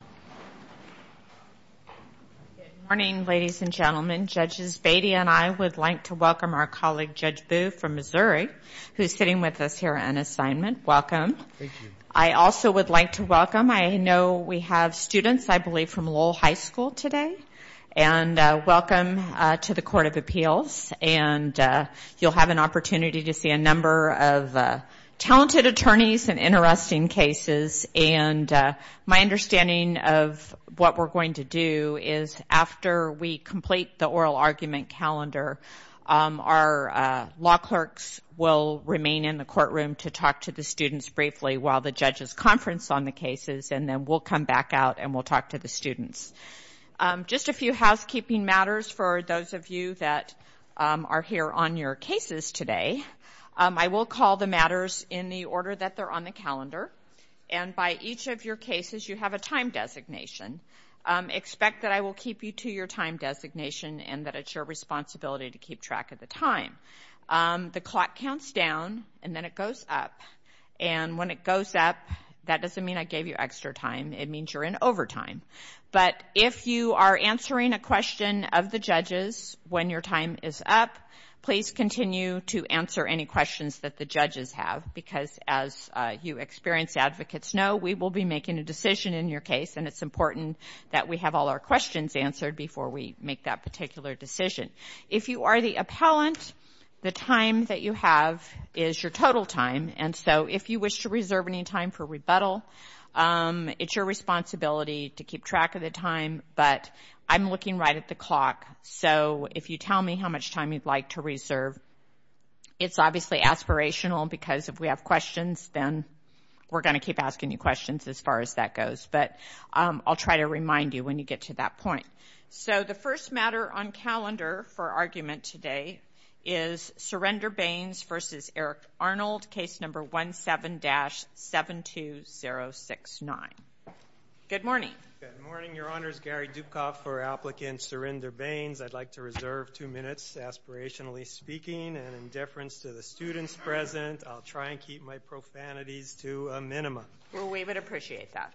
Good morning ladies and gentlemen, Judges Beatty and I would like to welcome our colleague Judge Boo from Missouri who is sitting with us here on assignment, welcome. I also would like to welcome, I know we have students I believe from Lowell High School today and welcome to the Court of Appeals and you will have an opportunity to see a lot of talented attorneys and interesting cases and my understanding of what we're going to do is after we complete the oral argument calendar, our law clerks will remain in the courtroom to talk to the students briefly while the judges conference on the cases and then we'll come back out and we'll talk to the students. Just a few housekeeping matters for those of you that are here on your cases today. I will call the matters in the order that they're on the calendar and by each of your cases you have a time designation. Expect that I will keep you to your time designation and that it's your responsibility to keep track of the time. The clock counts down and then it goes up and when it goes up that doesn't mean I gave you extra time, it means you're in overtime. But if you are answering a question of the judges when your time is up, please continue to answer any questions that the judges have because as you experienced advocates know, we will be making a decision in your case and it's important that we have all our questions answered before we make that particular decision. If you are the appellant, the time that you have is your total time and so if you wish to reserve any time for rebuttal, it's your responsibility to keep track of the time but I'm looking right at the clock so if you tell me how much time you'd like to reserve, it's obviously aspirational because if we have questions then we're going to keep asking you questions as far as that goes but I'll try to remind you when you get to that point. So the first matter on calendar for argument today is Surrender Baines v. Eric Arnold, case number 17-72069. Good morning. Your Honor, it's Gary Dukoff for applicant Surrender Baines. I'd like to reserve two minutes aspirationally speaking and in deference to the students present, I'll try and keep my profanities to a minimum. We would appreciate that.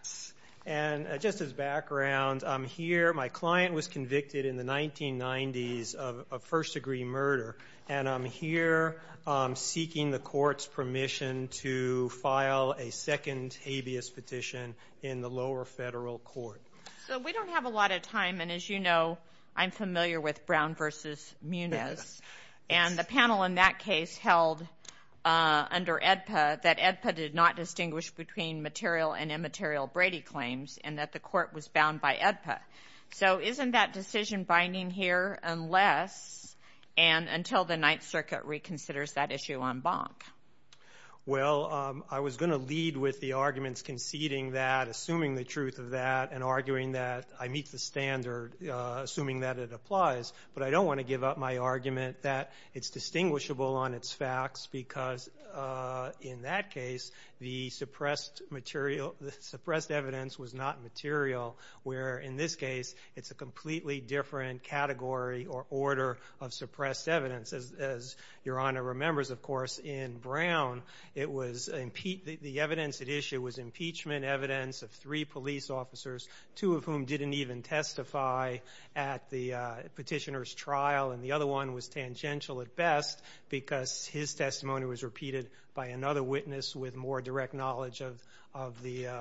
And just as background, I'm here, my client was convicted in the 1990s of first degree murder and I'm here seeking the court's permission to file a second habeas petition in the lower federal court. So we don't have a lot of time and as you know, I'm familiar with Brown v. Munez and the panel in that case held under AEDPA that AEDPA did not distinguish between material and immaterial Brady claims and that the court was bound by AEDPA. So isn't that decision binding here unless and until the Ninth Circuit reconsiders that issue en banc? Well, I was going to lead with the arguments conceding that, assuming the truth of that and arguing that I meet the standard, assuming that it applies, but I don't want to give up my argument that it's distinguishable on its facts because in that case, the suppressed evidence was not material where in this case, it's a completely different category or order of suppressed evidence as Your Honor remembers, of course, in Brown, the evidence at issue was impeachment evidence of three police officers, two of whom didn't even testify at the petitioner's trial and the other one was tangential at best because his testimony was repeated by another witness with more direct knowledge of the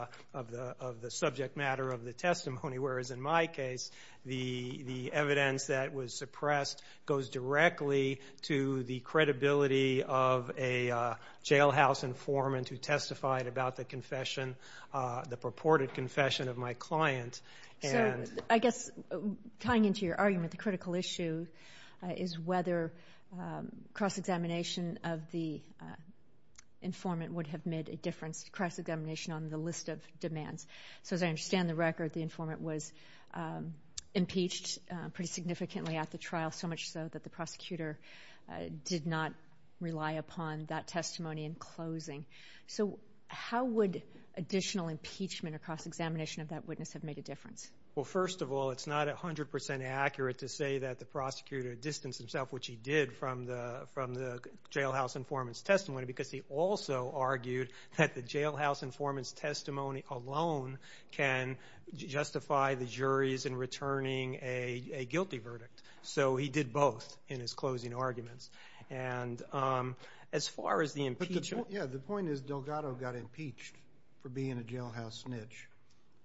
subject matter of the testimony, whereas in my case, the evidence that was suppressed goes directly to the credibility of a jailhouse informant who testified about the confession, the purported confession of my client and I guess tying into your argument, the critical issue is whether cross-examination of the informant would have made a difference, cross-examination on the list of demands. So as I understand the record, the informant was impeached pretty significantly at the trial so much so that the prosecutor did not rely upon that testimony in closing. So how would additional impeachment or cross-examination of that witness have made a difference? Well, first of all, it's not 100% accurate to say that the prosecutor distanced himself, which he did from the jailhouse informant's testimony because he also argued that the phone can justify the juries in returning a guilty verdict. So he did both in his closing arguments. And as far as the impeachment... Yeah, the point is Delgado got impeached for being a jailhouse snitch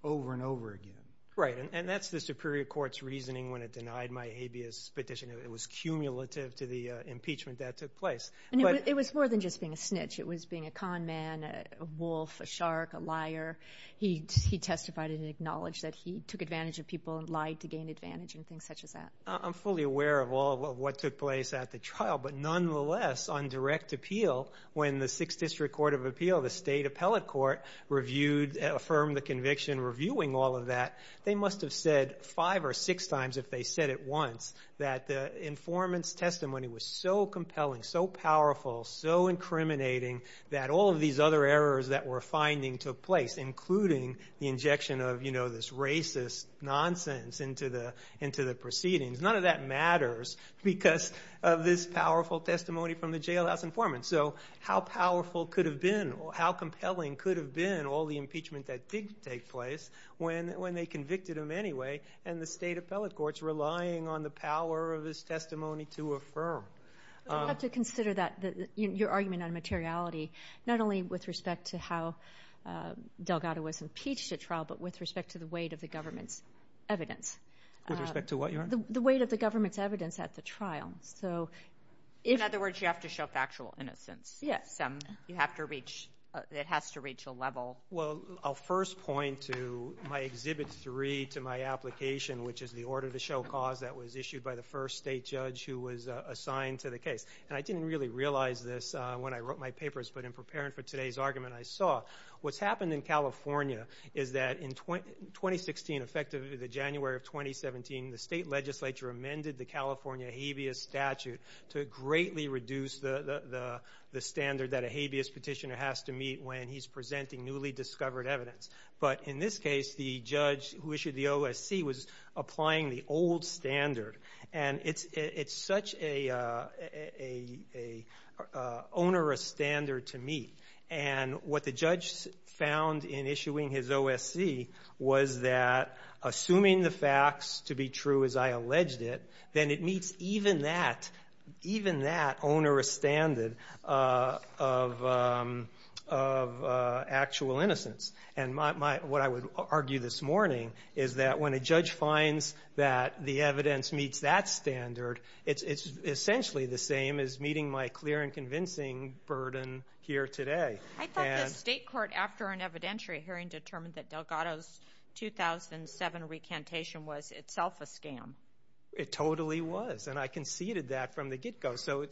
over and over again. Right. And that's the Superior Court's reasoning when it denied my habeas petition. It was cumulative to the impeachment that took place. It was more than just being a snitch. It was being a con man, a wolf, a shark, a liar. He testified and acknowledged that he took advantage of people and lied to gain advantage and things such as that. I'm fully aware of all of what took place at the trial, but nonetheless, on direct appeal, when the Sixth District Court of Appeal, the state appellate court, reviewed, affirmed the conviction reviewing all of that, they must have said five or six times, if they said it once, that the informant's testimony was so compelling, so powerful, so incriminating that all of these other errors that we're finding took place, including the injection of this racist nonsense into the proceedings. None of that matters because of this powerful testimony from the jailhouse informant. So how powerful could have been, how compelling could have been all the impeachment that did take place when they convicted him anyway, and the state appellate court's relying on the power of his testimony to affirm. I'd have to consider that, your argument on materiality, not only with respect to how Delgado was impeached at trial, but with respect to the weight of the government's evidence. With respect to what, Your Honor? The weight of the government's evidence at the trial. So if... In other words, you have to show factual innocence. Yes. You have to reach, it has to reach a level... Well, I'll first point to my Exhibit 3 to my application, which is the order to show the cause that was issued by the first state judge who was assigned to the case. And I didn't really realize this when I wrote my papers, but in preparing for today's argument, I saw what's happened in California is that in 2016, effectively the January of 2017, the state legislature amended the California habeas statute to greatly reduce the standard that a habeas petitioner has to meet when he's presenting newly discovered evidence. But in this case, the judge who issued the OSC was applying the old standard. And it's such an onerous standard to meet. And what the judge found in issuing his OSC was that assuming the facts to be true as I alleged it, then it meets even that onerous standard of actual innocence. And what I would argue this morning is that when a judge finds that the evidence meets that standard, it's essentially the same as meeting my clear and convincing burden here today. I thought the state court, after an evidentiary hearing, determined that Delgado's 2007 recantation was itself a scam. It totally was. And I conceded that from the get-go. So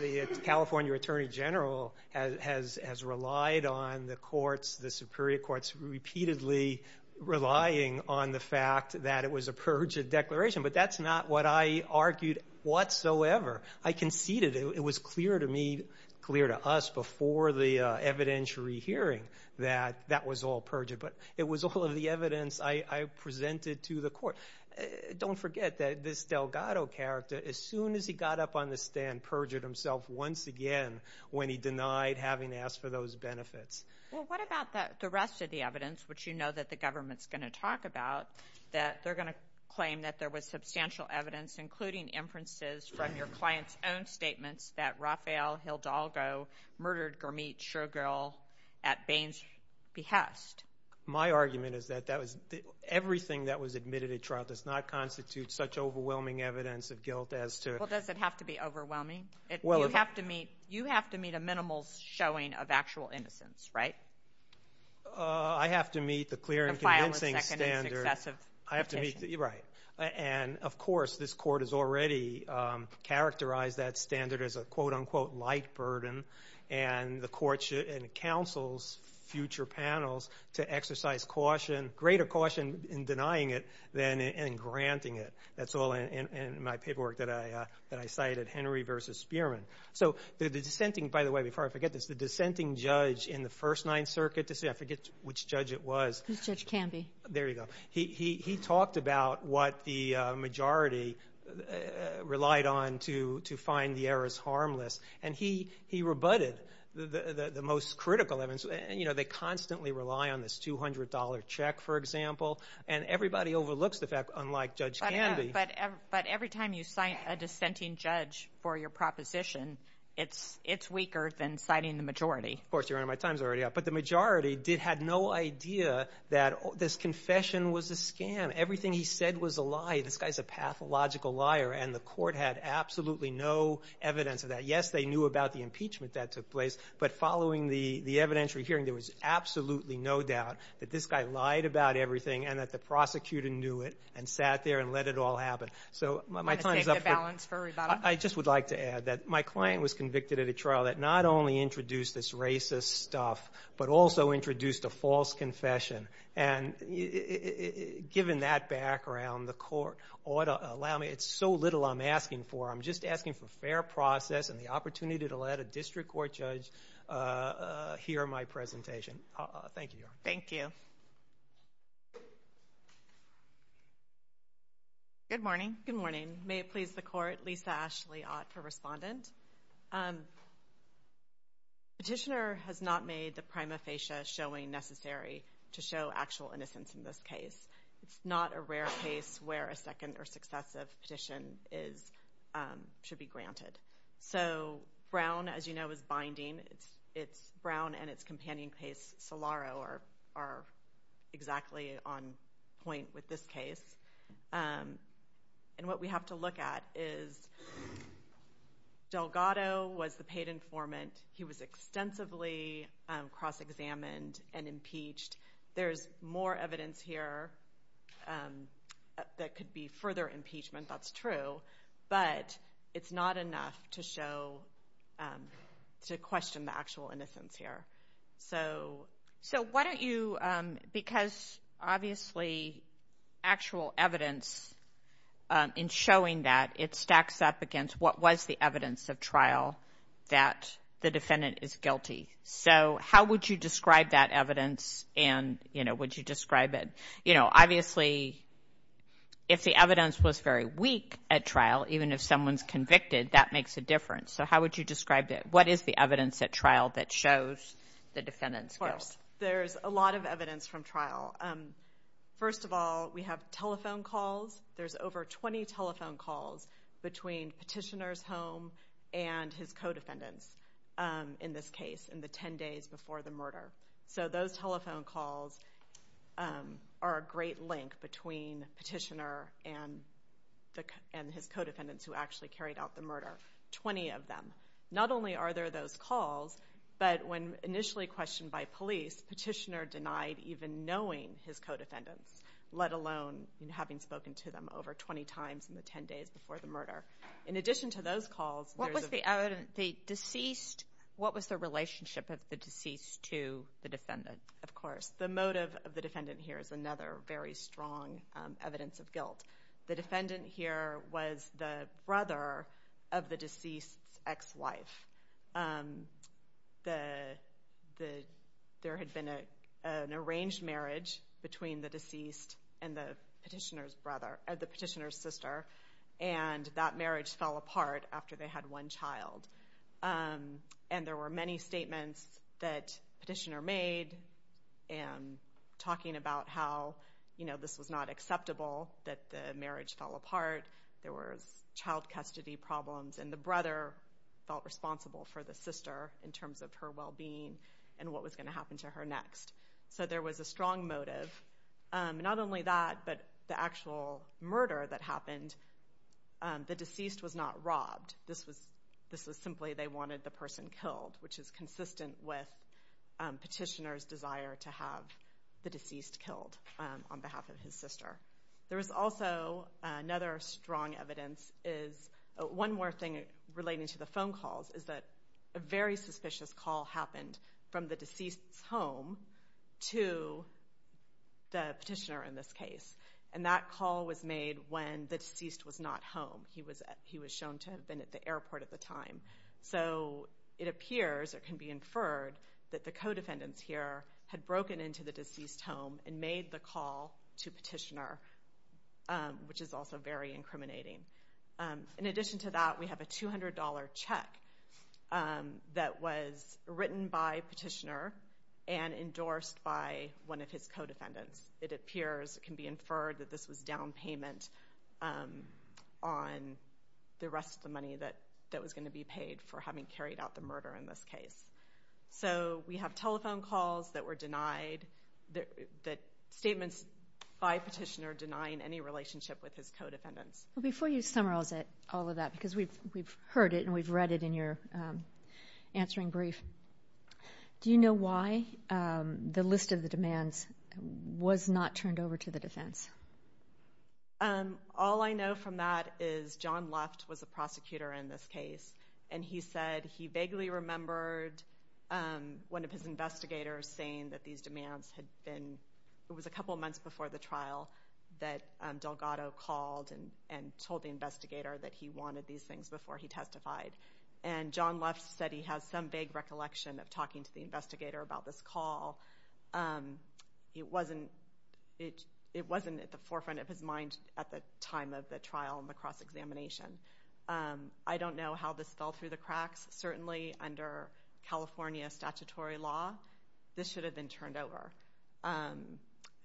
the California attorney general has relied on the courts, the superior courts, repeatedly relying on the fact that it was a perjured declaration. But that's not what I argued whatsoever. I conceded. It was clear to me, clear to us before the evidentiary hearing that that was all perjured. But it was all of the evidence I presented to the court. Don't forget that this Delgado character, as soon as he got up on the stand, perjured himself once again when he denied having asked for those benefits. Well, what about the rest of the evidence, which you know that the government's going to talk about, that they're going to claim that there was substantial evidence, including inferences from your client's own statements, that Rafael Hildalgo murdered Gurmeet Shughal at Bain's behest? My argument is that everything that was admitted at trial does not constitute such overwhelming evidence of guilt as to— Well, does it have to be overwhelming? You have to meet a minimal showing of actual innocence, right? I have to meet the clear and convincing standard. The final, second, and successive petition. Right. And, of course, this Court has already characterized that standard as a, quote-unquote, light burden. And the Court should—and counsels future panels to exercise caution, greater caution in denying it than in granting it. That's all in my paperwork that I cited, Henry v. Spearman. So the dissenting—by the way, before I forget this, the dissenting judge in the First Ninth Circuit—I forget which judge it was. Who's Judge Camby? There you go. He talked about what the majority relied on to find the errors harmless. And he rebutted the most critical evidence. You know, they constantly rely on this $200 check, for example. And everybody overlooks the fact, unlike Judge Camby— But every time you cite a dissenting judge for your proposition, it's weaker than citing the majority. Of course. You're in my times already. But the majority had no idea that this confession was a scam. Everything he said was a lie. This guy's a pathological liar. And the Court had absolutely no evidence of that. Yes, they knew about the impeachment that took place. But following the evidentiary hearing, there was absolutely no doubt that this guy lied about everything and that the prosecutor knew it and sat there and let it all happen. So my time is up. Want to take the balance for rebuttal? I just would like to add that my client was convicted at a trial that not only introduced this racist stuff, but also introduced a false confession. And given that background, the Court ought to allow me—it's so little I'm asking for. I'm just asking for fair process and the opportunity to let a district court judge hear my presentation. Thank you, Your Honor. Thank you. Good morning. Good morning. May it please the Court, Lisa Ashley Ott for Respondent. Petitioner has not made the prima facie showing necessary to show actual innocence in this case. It's not a rare case where a second or successive petition should be granted. So Brown, as you know, is binding. It's Brown and its companion case, Solaro, are exactly on point with this case. And what we have to look at is Delgado was the paid informant. He was extensively cross-examined and impeached. There's more evidence here that could be further impeachment, that's true, but it's not enough to show—to question the actual innocence here. So why don't you—because obviously actual evidence in showing that, it stacks up against what was the evidence of trial that the defendant is guilty. So how would you describe that evidence and, you know, would you describe it? You know, obviously, if the evidence was very weak at trial, even if someone's convicted, that makes a difference. So how would you describe it? What is the evidence at trial that shows the defendant's guilt? Of course, there's a lot of evidence from trial. First of all, we have telephone calls. There's over 20 telephone calls between Petitioner's home and his co-defendants in this case. In the 10 days before the murder. So those telephone calls are a great link between Petitioner and his co-defendants who actually carried out the murder. 20 of them. Not only are there those calls, but when initially questioned by police, Petitioner denied even knowing his co-defendants, let alone having spoken to them over 20 times in the 10 days before the murder. In addition to those calls— The deceased—what was the relationship of the deceased to the defendant? Of course, the motive of the defendant here is another very strong evidence of guilt. The defendant here was the brother of the deceased's ex-wife. There had been an arranged marriage between the deceased and the Petitioner's sister, and that marriage fell apart after they had one child. There were many statements that Petitioner made talking about how this was not acceptable, that the marriage fell apart, there were child custody problems, and the brother felt responsible for the sister in terms of her well-being and what was going to happen to her next. So there was a strong motive. Not only that, but the actual murder that happened, the deceased was not robbed. This was simply they wanted the person killed, which is consistent with Petitioner's desire to have the deceased killed on behalf of his sister. There is also another strong evidence. One more thing relating to the phone calls is that a very suspicious call happened from the deceased's home to the Petitioner in this case. That call was made when the deceased was not home. He was shown to have been at the airport at the time. It appears, or can be inferred, that the co-defendants here had broken into the deceased's home and made the call to Petitioner, which is also very incriminating. In addition to that, we have a $200 check that was written by Petitioner and endorsed by one of his co-defendants. It appears, it can be inferred, that this was down payment on the rest of the money that was going to be paid for having carried out the murder in this case. So we have telephone calls that were denied, statements by Petitioner denying any relationship with his co-defendants. Before you summarize all of that, because we've heard it and we've read it in your answering brief, do you know why the list of the demands was not turned over to the defense? All I know from that is John Luft was the prosecutor in this case, and he said he vaguely remembered one of his investigators saying that these demands had been, it was a couple months before the trial, that Delgado called and told the investigator that he wanted these things before he testified. And John Luft said he has some vague recollection of talking to the investigator about this call. It wasn't at the forefront of his mind at the time of the trial and the cross-examination. I don't know how this fell through the cracks. Certainly under California statutory law, this should have been turned over.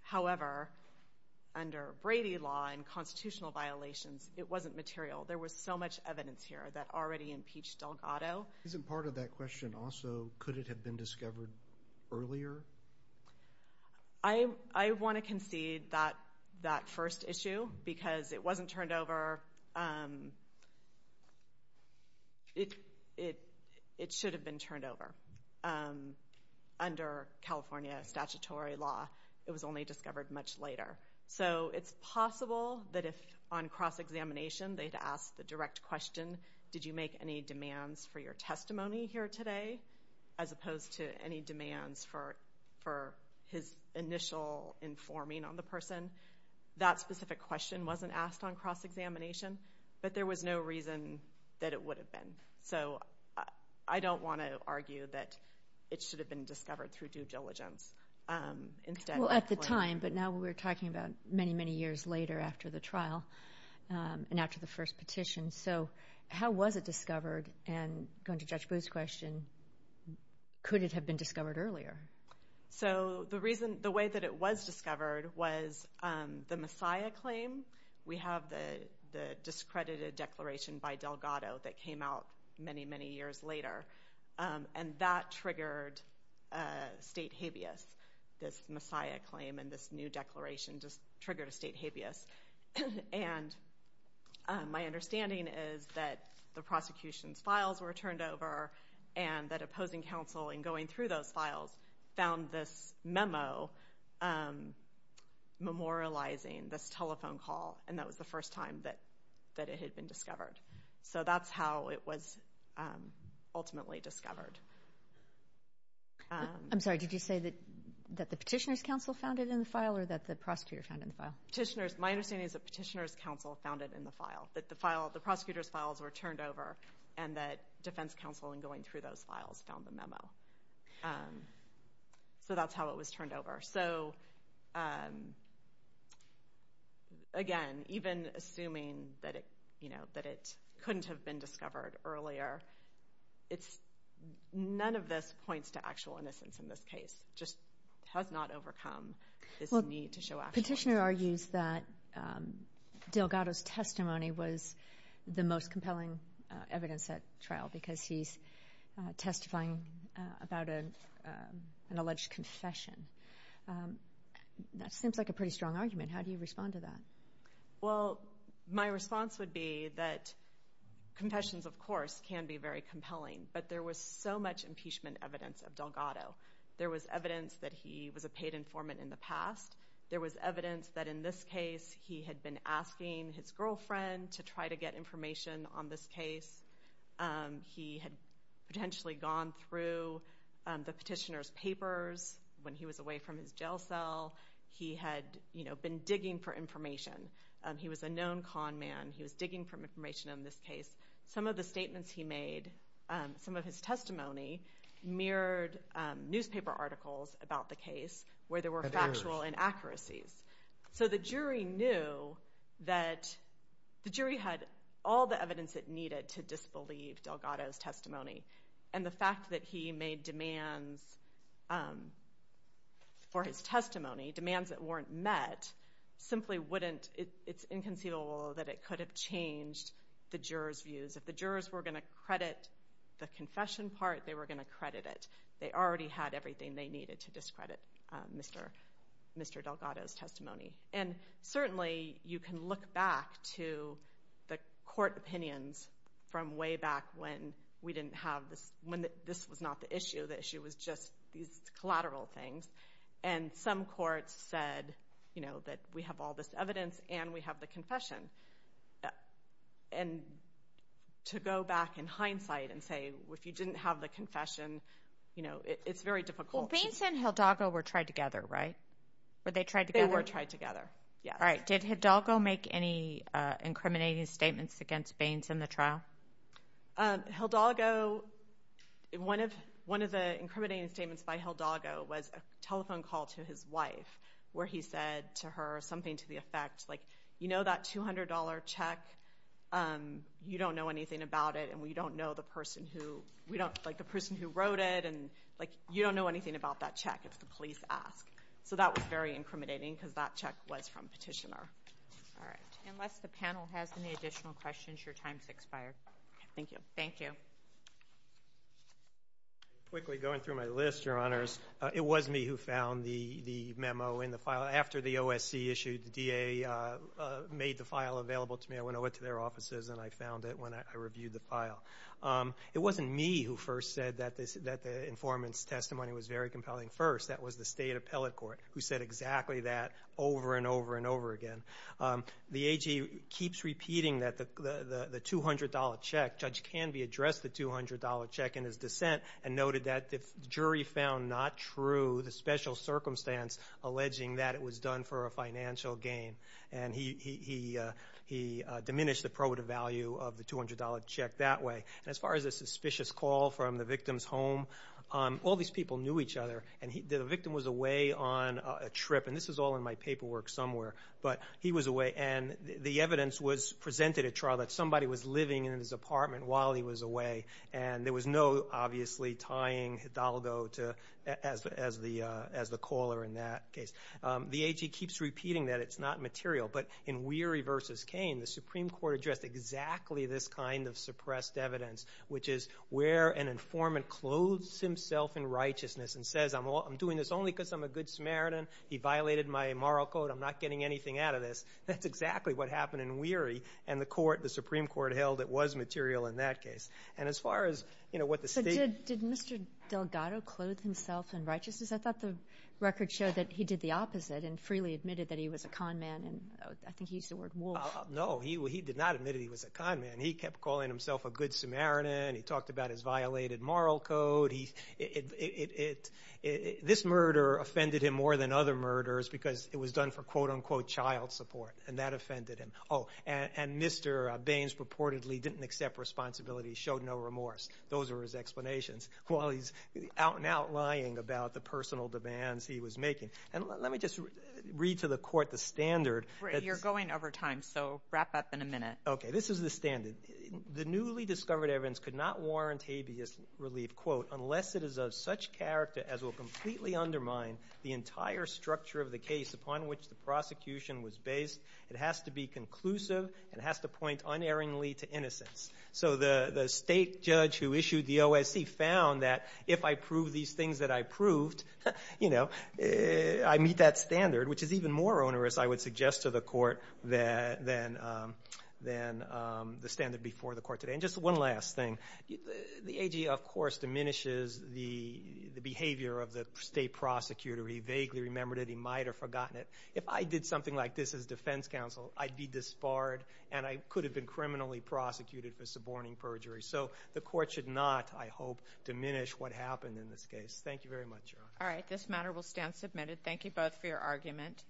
However, under Brady law and constitutional violations, it wasn't material. There was so much evidence here that already impeached Delgado. Isn't part of that question also, could it have been discovered earlier? I want to concede that first issue, because it wasn't turned over. However, it should have been turned over. Under California statutory law, it was only discovered much later. So it's possible that if on cross-examination they had asked the direct question, did you make any demands for your testimony here today, as opposed to any demands for his initial informing on the person, that specific question wasn't asked on cross-examination, but there was no reason that it would have been. I don't want to argue that it should have been discovered through due diligence. At the time, but now we're talking about many, many years later after the trial and after the first petition. How was it discovered and going to Judge Booth's question, could it have been discovered earlier? So the reason, the way that it was discovered was the Messiah claim. We have the discredited declaration by Delgado that came out many, many years later. And that triggered state habeas, this Messiah claim and this new declaration just triggered a state habeas. And my understanding is that the prosecution's files were turned over and that opposing counsel in going through those files found this memo memorializing this telephone call and that was the first time that it had been discovered. So that's how it was ultimately discovered. I'm sorry, did you say that the petitioner's counsel found it in the file or that the prosecutor found it in the file? Petitioner's, my understanding is that petitioner's counsel found it in the file. That the file, the prosecutor's files were turned over and that defense counsel in going through those files found the memo. So that's how it was turned over. So again, even assuming that it couldn't have been discovered earlier, none of this points to actual innocence in this case, just has not overcome this need to show actual innocence. Petitioner argues that Delgado's testimony was the most compelling evidence at trial because he's testifying about an alleged confession. That seems like a pretty strong argument, how do you respond to that? Well, my response would be that confessions of course can be very compelling, but there was so much impeachment evidence of Delgado. There was evidence that he was a paid informant in the past. There was evidence that in this case he had been asking his girlfriend to try to get information on this case. He had potentially gone through the petitioner's papers when he was away from his jail cell. He had been digging for information. He was a known con man, he was digging for information on this case. Some of the statements he made, some of his testimony mirrored newspaper articles about the case where there were factual inaccuracies. The jury knew that the jury had all the evidence it needed to disbelieve Delgado's testimony. The fact that he made demands for his testimony, demands that weren't met, simply wouldn't – it's inconceivable that it could have changed the jurors' views. If the jurors were going to credit the confession part, they were going to credit it. They already had everything they needed to discredit Mr. Delgado's testimony. And certainly you can look back to the court opinions from way back when we didn't have this – when this was not the issue, the issue was just these collateral things. And some courts said, you know, that we have all this evidence and we have the confession. And to go back in hindsight and say, if you didn't have the confession, you know, it's very difficult. Well, Baines and Hildago were tried together, right? Were they tried together? They were tried together, yes. All right. Did Hidalgo make any incriminating statements against Baines in the trial? Hildago – one of the incriminating statements by Hildago was a telephone call to his wife where he said to her something to the effect, like, you know that $200 check? You don't know anything about it. And we don't know the person who – we don't – like, the person who wrote it. And, like, you don't know anything about that check. It's the police ask. So that was very incriminating because that check was from Petitioner. All right. Unless the panel has any additional questions, your time has expired. Thank you. Thank you. Quickly, going through my list, Your Honors. It was me who found the memo in the file. After the OSC issued, the DA made the file available to me. I went over to their offices, and I found it when I reviewed the file. It wasn't me who first said that the informant's testimony was very compelling. First, that was the State Appellate Court, who said exactly that over and over and over again. The AG keeps repeating that the $200 check – He noted that the jury found not true the special circumstance alleging that it was done for a financial gain. And he diminished the probative value of the $200 check that way. And as far as the suspicious call from the victim's home, all these people knew each other. And the victim was away on a trip, and this was all in my paperwork somewhere. But he was away, and the evidence was presented at trial that somebody was living in his apartment while he was away. And there was no, obviously, tying Hidalgo as the caller in that case. The AG keeps repeating that it's not material. But in Weary v. Cain, the Supreme Court addressed exactly this kind of suppressed evidence, which is where an informant clothes himself in righteousness and says, I'm doing this only because I'm a good Samaritan. He violated my moral code. I'm not getting anything out of this. That's exactly what happened in Weary. And the Supreme Court held it was material in that case. So did Mr. Delgado clothe himself in righteousness? I thought the record showed that he did the opposite and freely admitted that he was a con man, and I think he used the word wolf. No, he did not admit he was a con man. He kept calling himself a good Samaritan. He talked about his violated moral code. This murder offended him more than other murders because it was done for, quote, unquote, child support, and that offended him. Oh, and Mr. Baines purportedly didn't accept responsibility, showed no remorse. Those are his explanations. While he's out and out lying about the personal demands he was making. And let me just read to the court the standard. You're going over time, so wrap up in a minute. Okay, this is the standard. The newly discovered evidence could not warrant habeas relief, quote, unless it is of such character as will completely undermine the entire structure of the case upon which the prosecution was based. It has to be conclusive. It has to point unerringly to innocence. So the state judge who issued the OSC found that if I prove these things that I proved, you know, I meet that standard, which is even more onerous, I would suggest to the court, than the standard before the court today. And just one last thing. The AG, of course, diminishes the behavior of the state prosecutor. He vaguely remembered it. He might have forgotten it. If I did something like this as defense counsel, I'd be disbarred, and I could have been criminally prosecuted for suborning perjury. So the court should not, I hope, diminish what happened in this case. Thank you very much, Your Honor. All right, this matter will stand submitted. Thank you both for your argument.